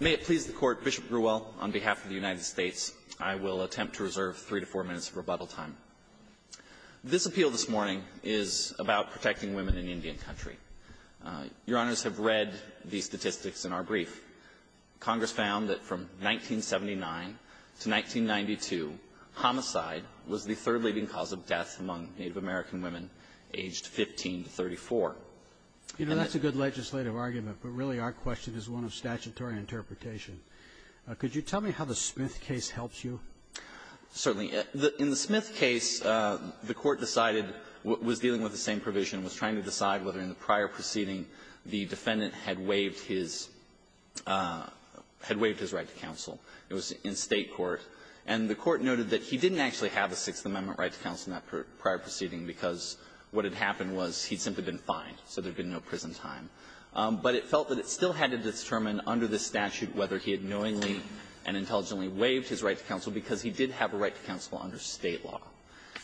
May it please the Court, Bishop Grewell, on behalf of the United States, I will attempt to reserve three to four minutes of rebuttal time. This appeal this morning is about protecting women in Indian Country. Your Honors have read the statistics in our brief. Congress found that from 1979 to 1992, homicide was the third leading cause of death among Native American women aged 15 to 34. And that's a good legislative argument, but really our question is one of statutory interpretation. Could you tell me how the Smith case helps you? Certainly. In the Smith case, the Court decided, was dealing with the same provision, was trying to decide whether in the prior proceeding the defendant had waived his right to counsel. It was in State court, and the Court noted that he didn't actually have a Sixth Amendment right to counsel in that prior proceeding because what had happened was he had simply been fined, so there had been no prison time. But it felt that it still had to determine under the statute whether he had knowingly and intelligently waived his right to counsel because he did have a right to counsel under State law.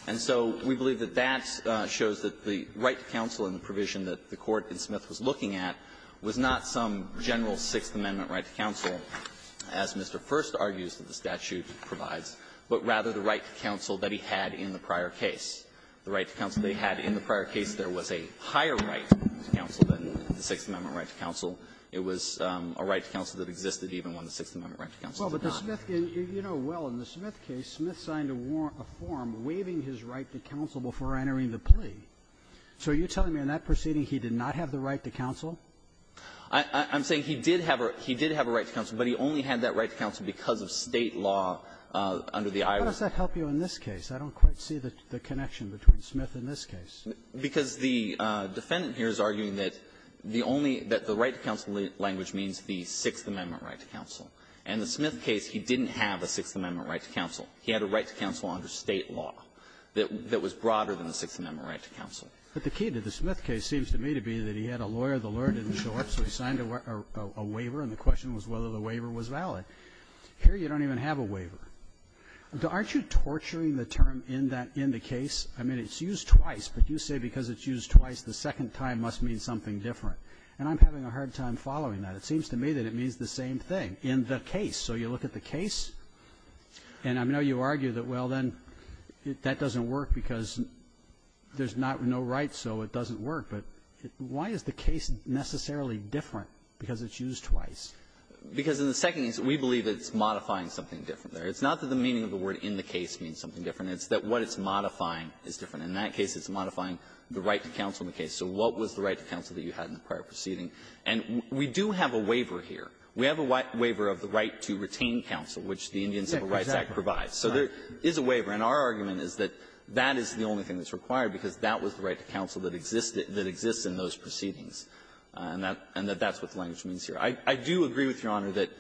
And so we believe that that shows that the right to counsel in the provision that the Court in Smith was looking at was not some general Sixth Amendment right to counsel, as Mr. First argues that the statute provides, but rather the right to counsel that he had in the prior case. The right to counsel that he had in the prior case, there was a higher right to counsel than the Sixth Amendment right to counsel. It was a right to counsel that existed even when the Sixth Amendment right to counsel did not. Well, but the Smith case, you know well, in the Smith case, Smith signed a form waiving his right to counsel before entering the plea. So are you telling me in that proceeding he did not have the right to counsel? I'm saying he did have a right to counsel, but he only had that right to counsel because of State law under the Iowa law. How does that help you in this case? I don't quite see the connection between Smith and this case. Because the defendant here is arguing that the only that the right to counsel language means the Sixth Amendment right to counsel. In the Smith case, he didn't have a Sixth Amendment right to counsel. He had a right to counsel under State law that was broader than the Sixth Amendment right to counsel. But the key to the Smith case seems to me to be that he had a lawyer. The lawyer didn't show up, so he signed a waiver. And the question was whether the waiver was valid. Here, you don't even have a waiver. Aren't you torturing the term in that --"in the case"? I mean, it's used twice. But you say because it's used twice, the second time must mean something different. And I'm having a hard time following that. It seems to me that it means the same thing. In the case. So you look at the case, and I know you argue that, well, then, that doesn't work because there's not no right, so it doesn't work. But why is the case necessarily different because it's used twice? Because in the second case, we believe it's modifying something different there. It's not that the meaning of the word in the case means something different. It's that what it's modifying is different. In that case, it's modifying the right to counsel in the case. So what was the right to counsel that you had in the prior proceeding? And we do have a waiver here. We have a waiver of the right to retain counsel, which the Indian Civil Rights Act provides. So there is a waiver. And our argument is that that is the only thing that's required because that was the right to counsel that exists in those proceedings, and that's what the language means here. I do agree with Your Honor that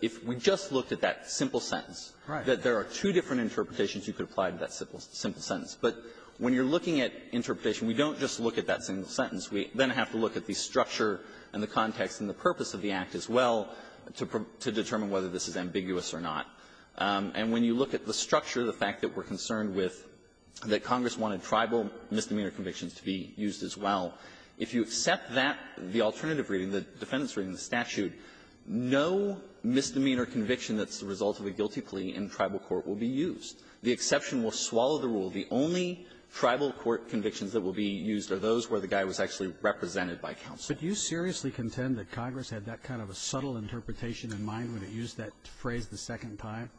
if we just looked at that simple sentence, that there are two different interpretations you could apply to that simple sentence. But when you're looking at interpretation, we don't just look at that single sentence. We then have to look at the structure and the context and the purpose of the Act as well to determine whether this is ambiguous or not. And when you look at the structure, the fact that we're concerned with that Congress wanted tribal misdemeanor convictions to be used as well, if you accept that, the statute, no misdemeanor conviction that's the result of a guilty plea in tribal court will be used. The exception will swallow the rule. The only tribal court convictions that will be used are those where the guy was actually represented by counsel. Roberts. But do you seriously contend that Congress had that kind of a subtle interpretation in mind when it used that phrase the second time?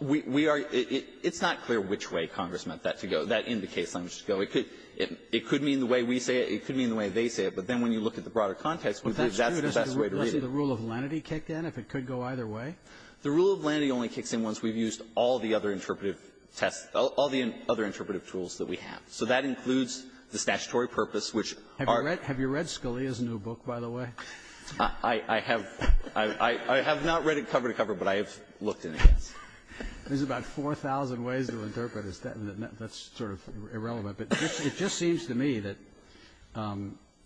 We are – it's not clear which way Congress meant that to go. That indicates language to go. It could mean the way we say it. It could mean the way they say it. But then when you look at the broader context, we believe that's the best way to read it. But that's true. Doesn't the rule of lenity kick in if it could go either way? The rule of lenity only kicks in once we've used all the other interpretive tests – all the other interpretive tools that we have. So that includes the statutory purpose, which are – Have you read Scalia's new book, by the way? I – I have – I have not read it cover to cover, but I have looked in it. There's about 4,000 ways to interpret it. That's sort of irrelevant. But it just seems to me that,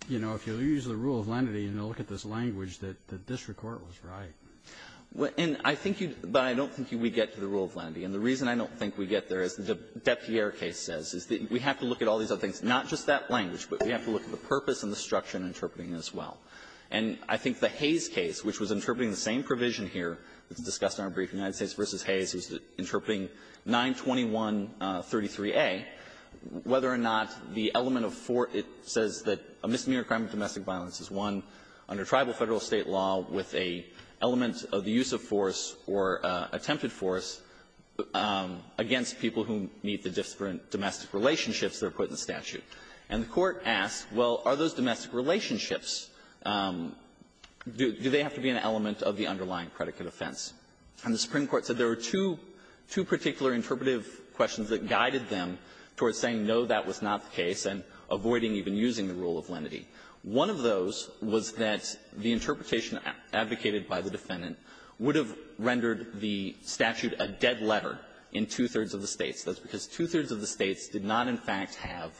you know, if you use the rule of lenity and you look at this language, that the district court was right. Well, and I think you – but I don't think you would get to the rule of lenity. And the reason I don't think we get there, as the Deputy Ayer case says, is that we have to look at all these other things, not just that language, but we have to look at the purpose and the structure in interpreting it as well. And I think the Hayes case, which was interpreting the same provision here that's discussed in our brief, United States v. Hayes, was interpreting 92133a. Whether or not the element of four – it says that a misdemeanor crime of domestic violence is one under tribal, Federal, State law with a element of the use of force or attempted force against people who meet the different domestic relationships that are put in the statute. And the Court asked, well, are those domestic relationships, do they have to be an element of the underlying predicate offense? And the Supreme Court said there were two – two particular interpretive questions that guided them towards saying, no, that was not the case, and avoiding even using the rule of lenity. One of those was that the interpretation advocated by the defendant would have rendered the statute a dead letter in two-thirds of the States. That's because two-thirds of the States did not, in fact, have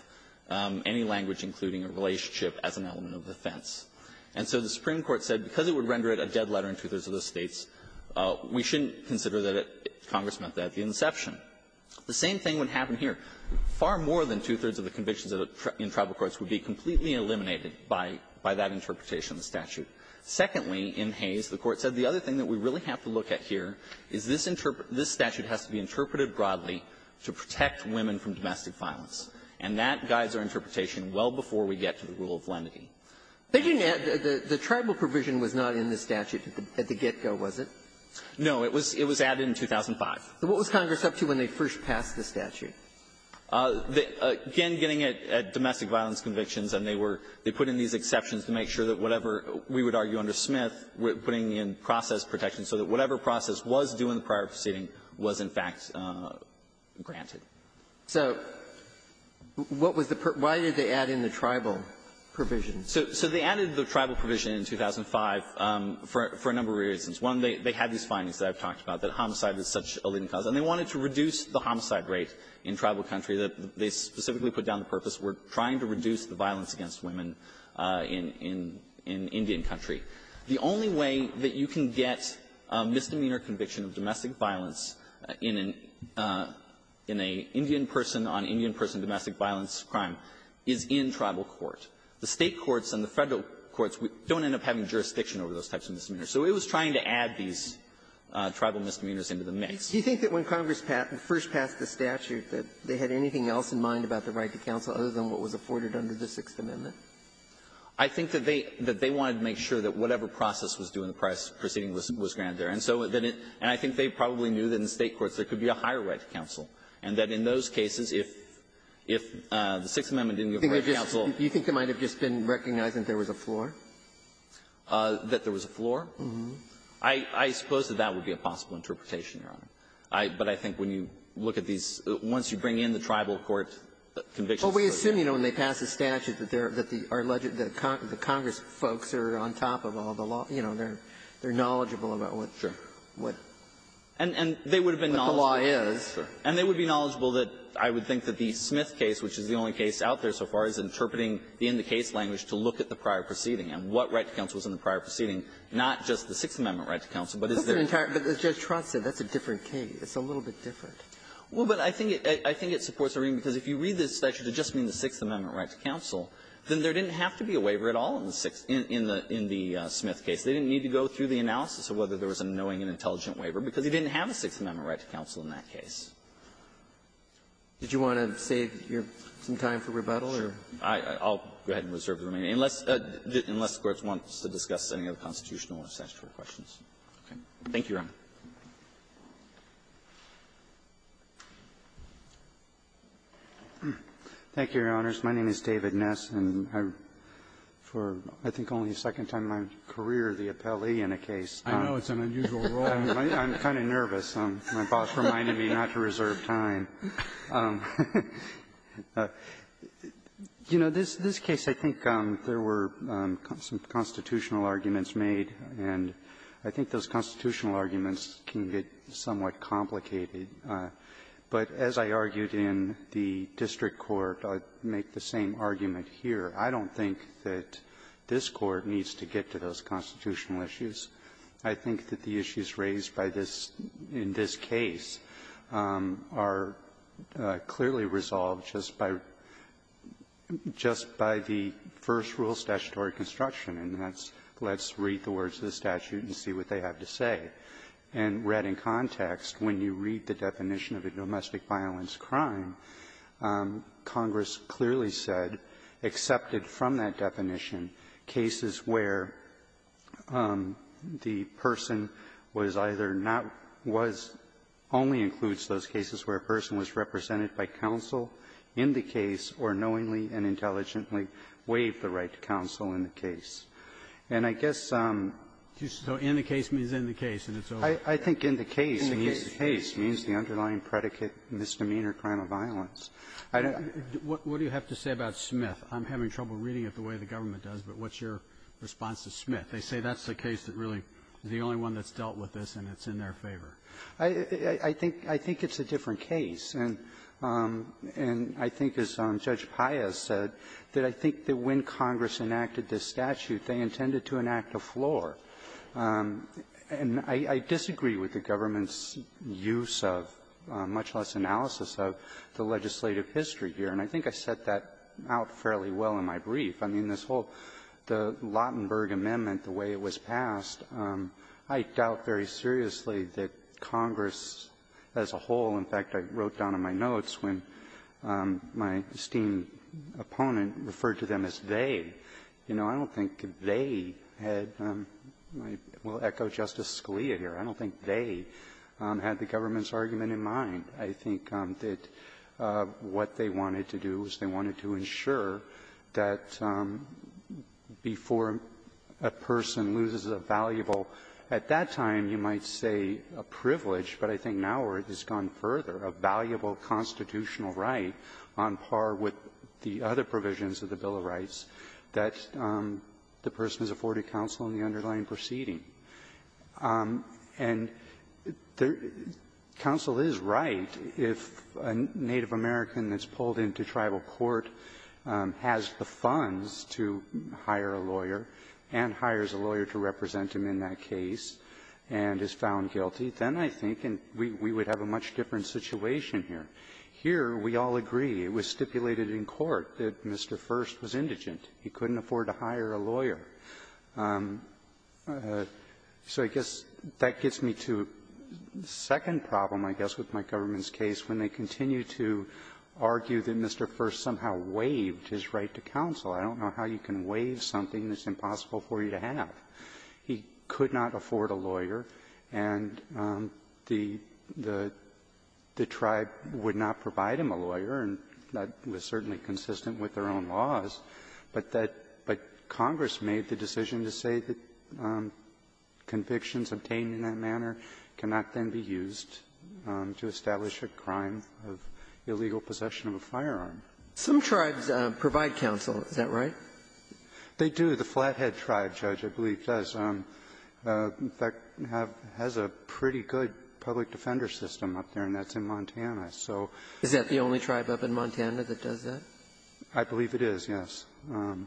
any language including a relationship as an element of offense. And so the Supreme Court said, because it would render it a dead letter in two-thirds of the States, we shouldn't consider that Congress meant that at the inception. The same thing would happen here. Far more than two-thirds of the convictions in tribal courts would be completely eliminated by that interpretation of the statute. Secondly, in Hayes, the Court said the other thing that we really have to look at here is this statute has to be interpreted broadly to protect women from domestic violence. And that guides our interpretation well before we get to the rule of lenity. Sotomayor, the Tribal provision was not in the statute at the get-go, was it? No. It was added in 2005. So what was Congress up to when they first passed the statute? Again, getting at domestic violence convictions, and they were they put in these exceptions to make sure that whatever we would argue under Smith, putting in process protection, so that whatever process was due in the prior proceeding was, in fact, granted. So what was the per why did they add in the Tribal provision? So they added the Tribal provision in 2005 for a number of reasons. One, they had these findings that I've talked about, that homicide is such a leading cause, and they wanted to reduce the homicide rate in tribal country. They specifically put down the purpose, we're trying to reduce the violence against women in Indian country. The only way that you can get a misdemeanor conviction of domestic violence in an Indian person on Indian person domestic violence crime is in tribal court. The State courts and the Federal courts don't end up having jurisdiction over those types of misdemeanors. So it was trying to add these tribal misdemeanors into the mix. Ginsburg. Do you think that when Congress passed, first passed the statute, that they had anything else in mind about the right to counsel other than what was afforded under the Sixth Amendment? I think that they wanted to make sure that whatever process was due in the prior proceeding was granted there. And so then it and I think they probably knew that in State courts there could be a higher right to counsel, and that in those cases, if the Sixth Amendment didn't give right to counsel. Do you think they might have just been recognizing there was a floor? That there was a floor? I suppose that that would be a possible interpretation, Your Honor. But I think when you look at these, once you bring in the tribal court convictions of those guys. Well, we assume, you know, when they pass the statute that they're legit, that the Congress folks are on top of all the law, you know, they're knowledgeable about what the law is. And they would have been knowledgeable. And they would be knowledgeable that I would think that the Smith case, which is the only case out there so far, is interpreting the in-the-case language to look at the prior proceeding and what right to counsel is in the prior proceeding, not just the Sixth Amendment right to counsel, but is there an entire other case. Ginsburg. But as Judge Trott said, that's a different case. It's a little bit different. Well, but I think it supports the reason, because if you read this statute, it just means the Sixth Amendment right to counsel. Then there didn't have to be a waiver at all in the Smith case. They didn't need to go through the analysis of whether there was a knowing and intelligent waiver, because you didn't have a Sixth Amendment right to counsel in that case. Did you want to save your some time for rebuttal or? I'll go ahead and reserve the remaining. Unless the Court wants to discuss any other constitutional or statutory questions. Okay. Thank you, Your Honor. Thank you, Your Honors. My name is David Ness. And I'm for, I think, only the second time in my career the appellee in a case. I know. It's an unusual role. I'm kind of nervous. My boss reminded me not to reserve time. You know, this case, I think there were some constitutional arguments made. And I think those constitutional arguments can get somewhat complicated. But as I argued in the district court, I'd make the same argument here. I don't think that this Court needs to get to those constitutional issues. I think that the issues raised by this, in this case, are clearly resolved just by, just by the first rule statutory construction, and that's, let's read the words of the statute and see what they have to say. And read in context, when you read the definition of a domestic violence crime, Congress clearly said, excepted from that definition, cases where the person was either not was, only includes those cases where a person was represented by counsel in the case or knowingly and intelligently waived the right to counsel in the case. And I guess so in the case means in the case, and it's over. I think in the case means the underlying predicate misdemeanor crime of violence. I don't know. Roberts, what do you have to say about Smith? I'm having trouble reading it the way the government does, but what's your response to Smith? They say that's the case that really is the only one that's dealt with this and it's in their favor. I think it's a different case. And I think, as Judge Paya said, that I think that when Congress enacted this statute, they intended to enact a floor. And I disagree with the government's use of, much less analysis of, the legislative history here. And I think I set that out fairly well in my brief. I mean, this whole, the Lautenberg Amendment, the way it was passed, I doubt very seriously that Congress as a whole, in fact, I wrote down in my notes when my esteemed opponent referred to them as they. You know, I don't think they had, and I will echo Justice Scalia here, I don't think they had the government's argument in mind. I think that what they wanted to do was they wanted to ensure that before a person loses a valuable, at that time you might say a privilege, but I think now it has gone further, a valuable constitutional right on par with the other provisions of the Bill of Rights, that the person is afforded counsel in the underlying proceeding. And counsel is right if a Native American that's pulled into tribal court has the funds to hire a lawyer and hires a lawyer to represent him in that case and is found guilty, then I think we would have a much different situation here. Here, we all agree, it was stipulated in court that Mr. First was indigent. He couldn't afford to hire a lawyer. So I guess that gets me to the second problem, I guess, with my government's case, when they continue to argue that Mr. First somehow waived his right to counsel. I don't know how you can waive something that's impossible for you to have. He could not afford a lawyer, and the tribe would not provide him a lawyer, and that was certainly consistent with their own laws, but that the Congress made the decision to say that convictions obtained in that manner cannot then be used to establish a crime of illegal possession of a firearm. Some tribes provide counsel, is that right? They do. The Flathead tribe, Judge, I believe does. In fact, has a pretty good public defender system up there, and that's in Montana. So the only tribe up in Montana that does that? I believe it is, yes.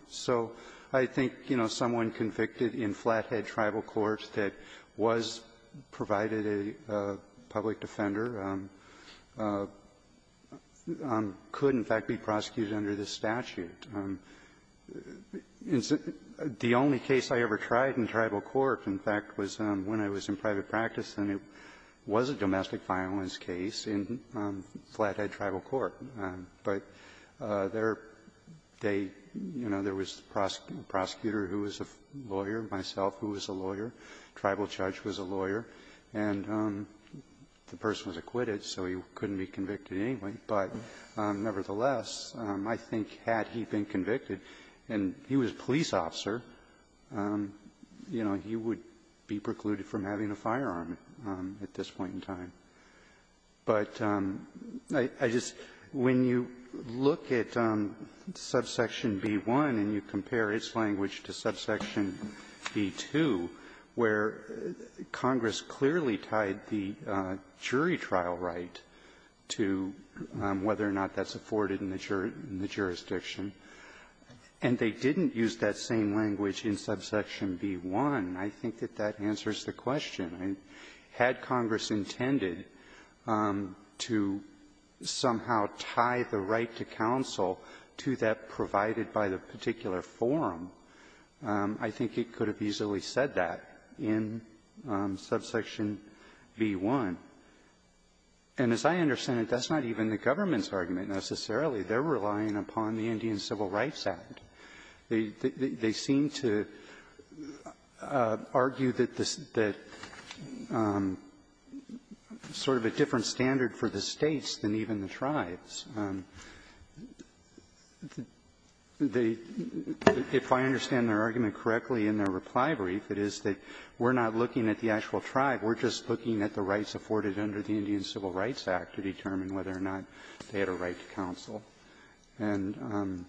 So I think, you know, someone convicted in Flathead tribal court that was provided a public defender could, in fact, be prosecuted under this statute. And the only case I ever tried in tribal court, in fact, was when I was in private practice, and it was a domestic violence case in Flathead tribal court. But there, they, you know, there was a prosecutor who was a lawyer, myself, who was a lawyer, tribal judge was a lawyer, and the person was acquitted, so he couldn't be convicted anyway. But nevertheless, I think had he been convicted, and he was a police officer, you know, he would be precluded from having a firearm at this point in time. But I just, when you look at subsection B-1 and you compare its language to subsection B-2, where Congress clearly tied the jury trial right to whether or not that's afforded in the jurisdiction, and they didn't use that same language in subsection B-1, I think that that answers the question. Had Congress intended to somehow tie the right to counsel to that provided by the I think it could have easily said that in subsection B-1. And as I understand it, that's not even the government's argument, necessarily. They're relying upon the Indian Civil Rights Act. They seem to argue that the sort of a different standard for the States than even the tribes. They, if I understand their argument correctly in their reply brief, it is that we're not looking at the actual tribe. We're just looking at the rights afforded under the Indian Civil Rights Act to determine whether or not they had a right to counsel. And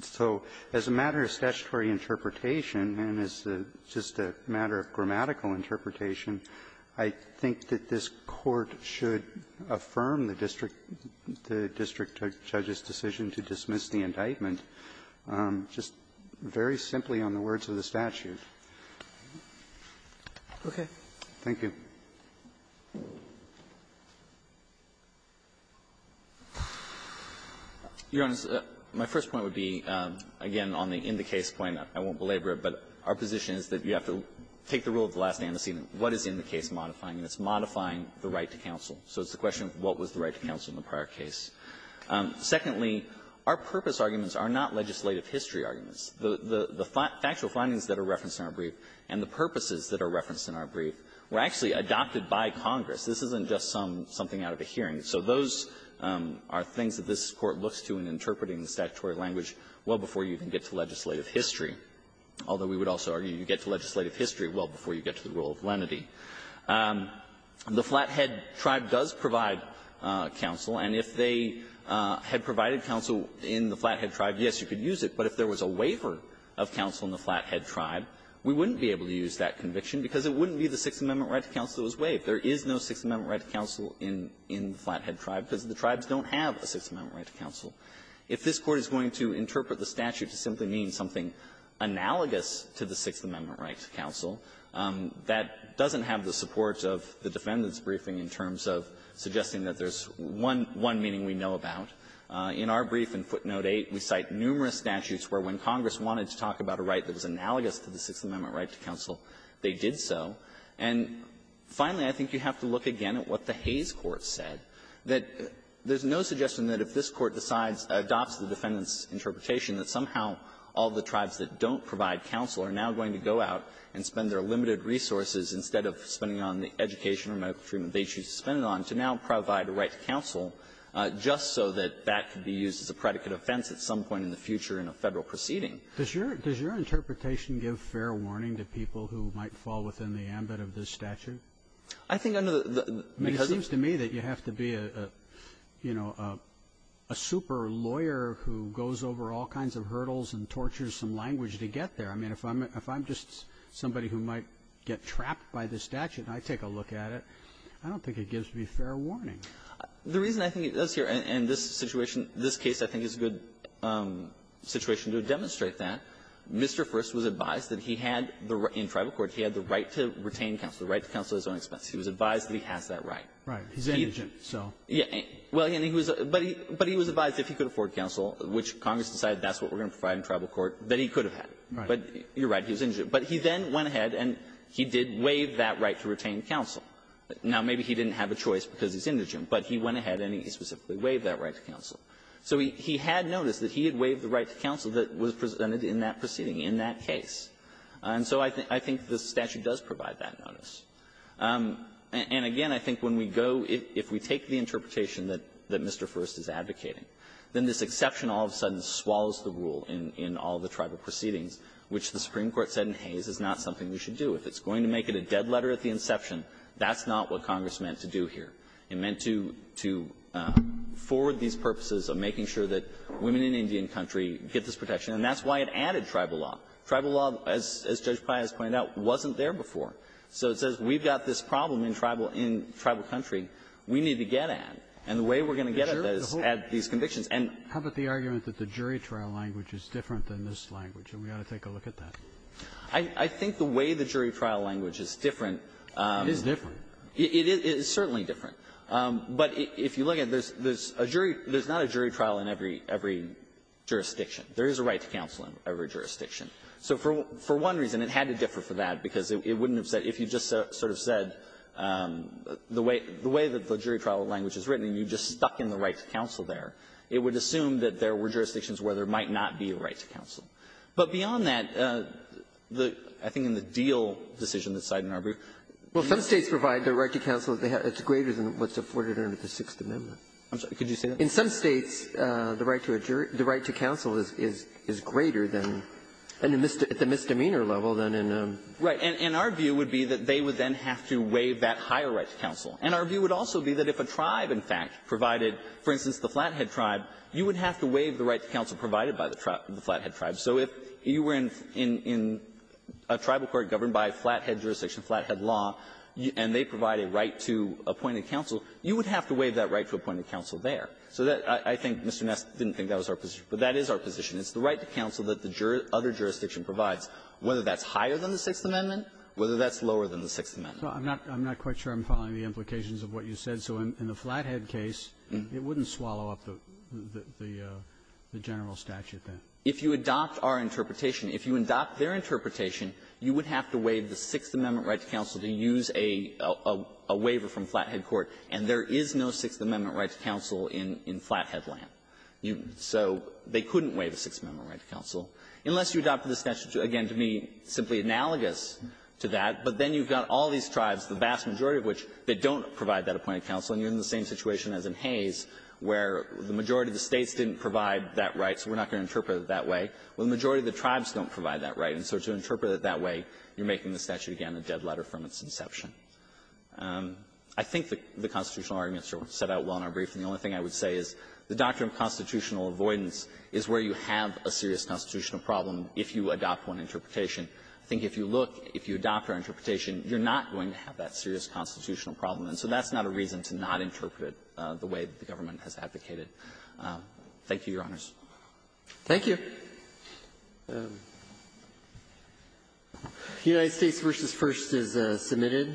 so as a matter of statutory interpretation, and as just a matter of grammatical interpretation, I think that this Court should affirm the district judge's decision to dismiss the indictment just very simply on the words of the statute. Sotomayor, okay. Thank you. Martinez, my first point would be, again, on the in-the-case point. I won't belabor it. But our position is that you have to take the rule of the last antecedent. What is in the case modifying? And it's modifying the right to counsel. So it's the question of what was the right to counsel in the prior case. Secondly, our purpose arguments are not legislative history arguments. The factual findings that are referenced in our brief and the purposes that are referenced in our brief were actually adopted by Congress. This isn't just something out of a hearing. So those are things that this Court looks to in interpreting the statutory language well before you can get to legislative history. Although we would also argue you get to legislative history well before you get to the rule of lenity. The Flathead Tribe does provide counsel. And if they had provided counsel in the Flathead Tribe, yes, you could use it. But if there was a waiver of counsel in the Flathead Tribe, we wouldn't be able to use that conviction because it wouldn't be the Sixth Amendment right to counsel that was waived. There is no Sixth Amendment right to counsel in the Flathead Tribe because the tribes don't have a Sixth Amendment right to counsel. If this Court is going to interpret the statute to simply mean something analogous to the Sixth Amendment right to counsel, that doesn't have the support of the defendant's briefing in terms of suggesting that there's one meaning we know about. In our brief in footnote 8, we cite numerous statutes where when Congress wanted to talk about a right that was analogous to the Sixth Amendment right to counsel, they did so. And finally, I think you have to look again at what the Hayes Court said, that there's no suggestion that if this Court decides, adopts the defendant's interpretation, that somehow all the tribes that don't provide counsel are now going to go out and spend their limited resources, instead of spending on the education or medical treatment they choose to spend it on, to now provide a right to counsel just so that that could be used as a predicate offense at some point in the future in a Federal proceeding. Roberts. Does your interpretation give fair warning to people who might fall within the ambit of this statute? I think under the ---- It seems to me that you have to be a, you know, a super-lawyer who goes over all kinds of hurdles and tortures some language to get there. I mean, if I'm just somebody who might get trapped by this statute, and I take a look at it, I don't think it gives me fair warning. The reason I think it does here, and this situation, this case I think is a good situation to demonstrate that, Mr. First was advised that he had the right in tribal court to retain counsel at his own expense. He was advised that he has that right. Right. He's indigent, so. Yeah. Well, and he was ---- but he was advised if he could afford counsel, which Congress decided that's what we're going to provide in tribal court, that he could have had it. But you're right, he was indigent. But he then went ahead and he did waive that right to retain counsel. Now, maybe he didn't have a choice because he's indigent, but he went ahead and he specifically waived that right to counsel. So he had noticed that he had waived the right to counsel that was presented in that proceeding, in that case. And so I think the statute does provide that notice. And again, I think when we go ---- if we take the interpretation that Mr. First is advocating, then this exception all of a sudden swallows the rule in all the tribal proceedings, which the Supreme Court said in Hayes is not something we should do. If it's going to make it a dead letter at the inception, that's not what Congress meant to do here. It meant to forward these purposes of making sure that women in Indian country get this protection. And that's why it added tribal law. Tribal law, as Judge Pai has pointed out, wasn't there before. So it says we've got this problem in tribal country. We need to get at it. And the way we're going to get at it is add these convictions. And ---- Kennedy, how about the argument that the jury trial language is different than this language, and we ought to take a look at that? I think the way the jury trial language is different ---- It is different. It is certainly different. But if you look at this, there's a jury ---- there's not a jury trial in every jurisdiction. There is a right to counsel in every jurisdiction. So for one reason, it had to differ for that, because it wouldn't have said ---- if you just sort of said the way that the jury trial language is written, and you just stuck in the right to counsel there, it would assume that there were jurisdictions where there might not be a right to counsel. But beyond that, the ---- I think in the deal decision that's cited in our brief ---- Well, some States provide the right to counsel that's greater than what's afforded under the Sixth Amendment. I'm sorry. Could you say that? In some States, the right to counsel is greater than ---- at the misdemeanor level than in the ---- Right. And our view would be that they would then have to waive that higher right to counsel. And our view would also be that if a tribe, in fact, provided, for instance, the Flathead tribe, you would have to waive the right to counsel provided by the Flathead tribe. So if you were in a tribal court governed by Flathead jurisdiction, Flathead law, and they provide a right to appointed counsel, you would have to waive that right to appointed counsel there. So that ---- I think Mr. Ness didn't think that was our position. But that is our position. It's the right to counsel that the other jurisdiction provides, whether that's higher than the Sixth Amendment, whether that's lower than the Sixth Amendment. I'm not quite sure I'm following the implications of what you said. So in the Flathead case, it wouldn't swallow up the general statute then. If you adopt our interpretation, if you adopt their interpretation, you would have to waive the Sixth Amendment right to counsel to use a waiver from Flathead court. And there is no Sixth Amendment right to counsel in Flathead land. So they couldn't waive a Sixth Amendment right to counsel. Unless you adopted the statute, again, to be simply analogous to that. But then you've got all these tribes, the vast majority of which, that don't provide that appointed counsel. And you're in the same situation as in Hayes, where the majority of the States didn't provide that right, so we're not going to interpret it that way. Well, the majority of the tribes don't provide that right. And so to interpret it that way, you're making the statute, again, a dead letter from its inception. I think the constitutional arguments are set out well in our brief, and the only thing I would say is the doctrine of constitutional avoidance is where you have a serious constitutional problem if you adopt one interpretation. I think if you look, if you adopt our interpretation, you're not going to have that serious constitutional problem. And so that's not a reason to not interpret it the way the government has advocated. Thank you, Your Honors. Thank you. The United States v. First is submitted.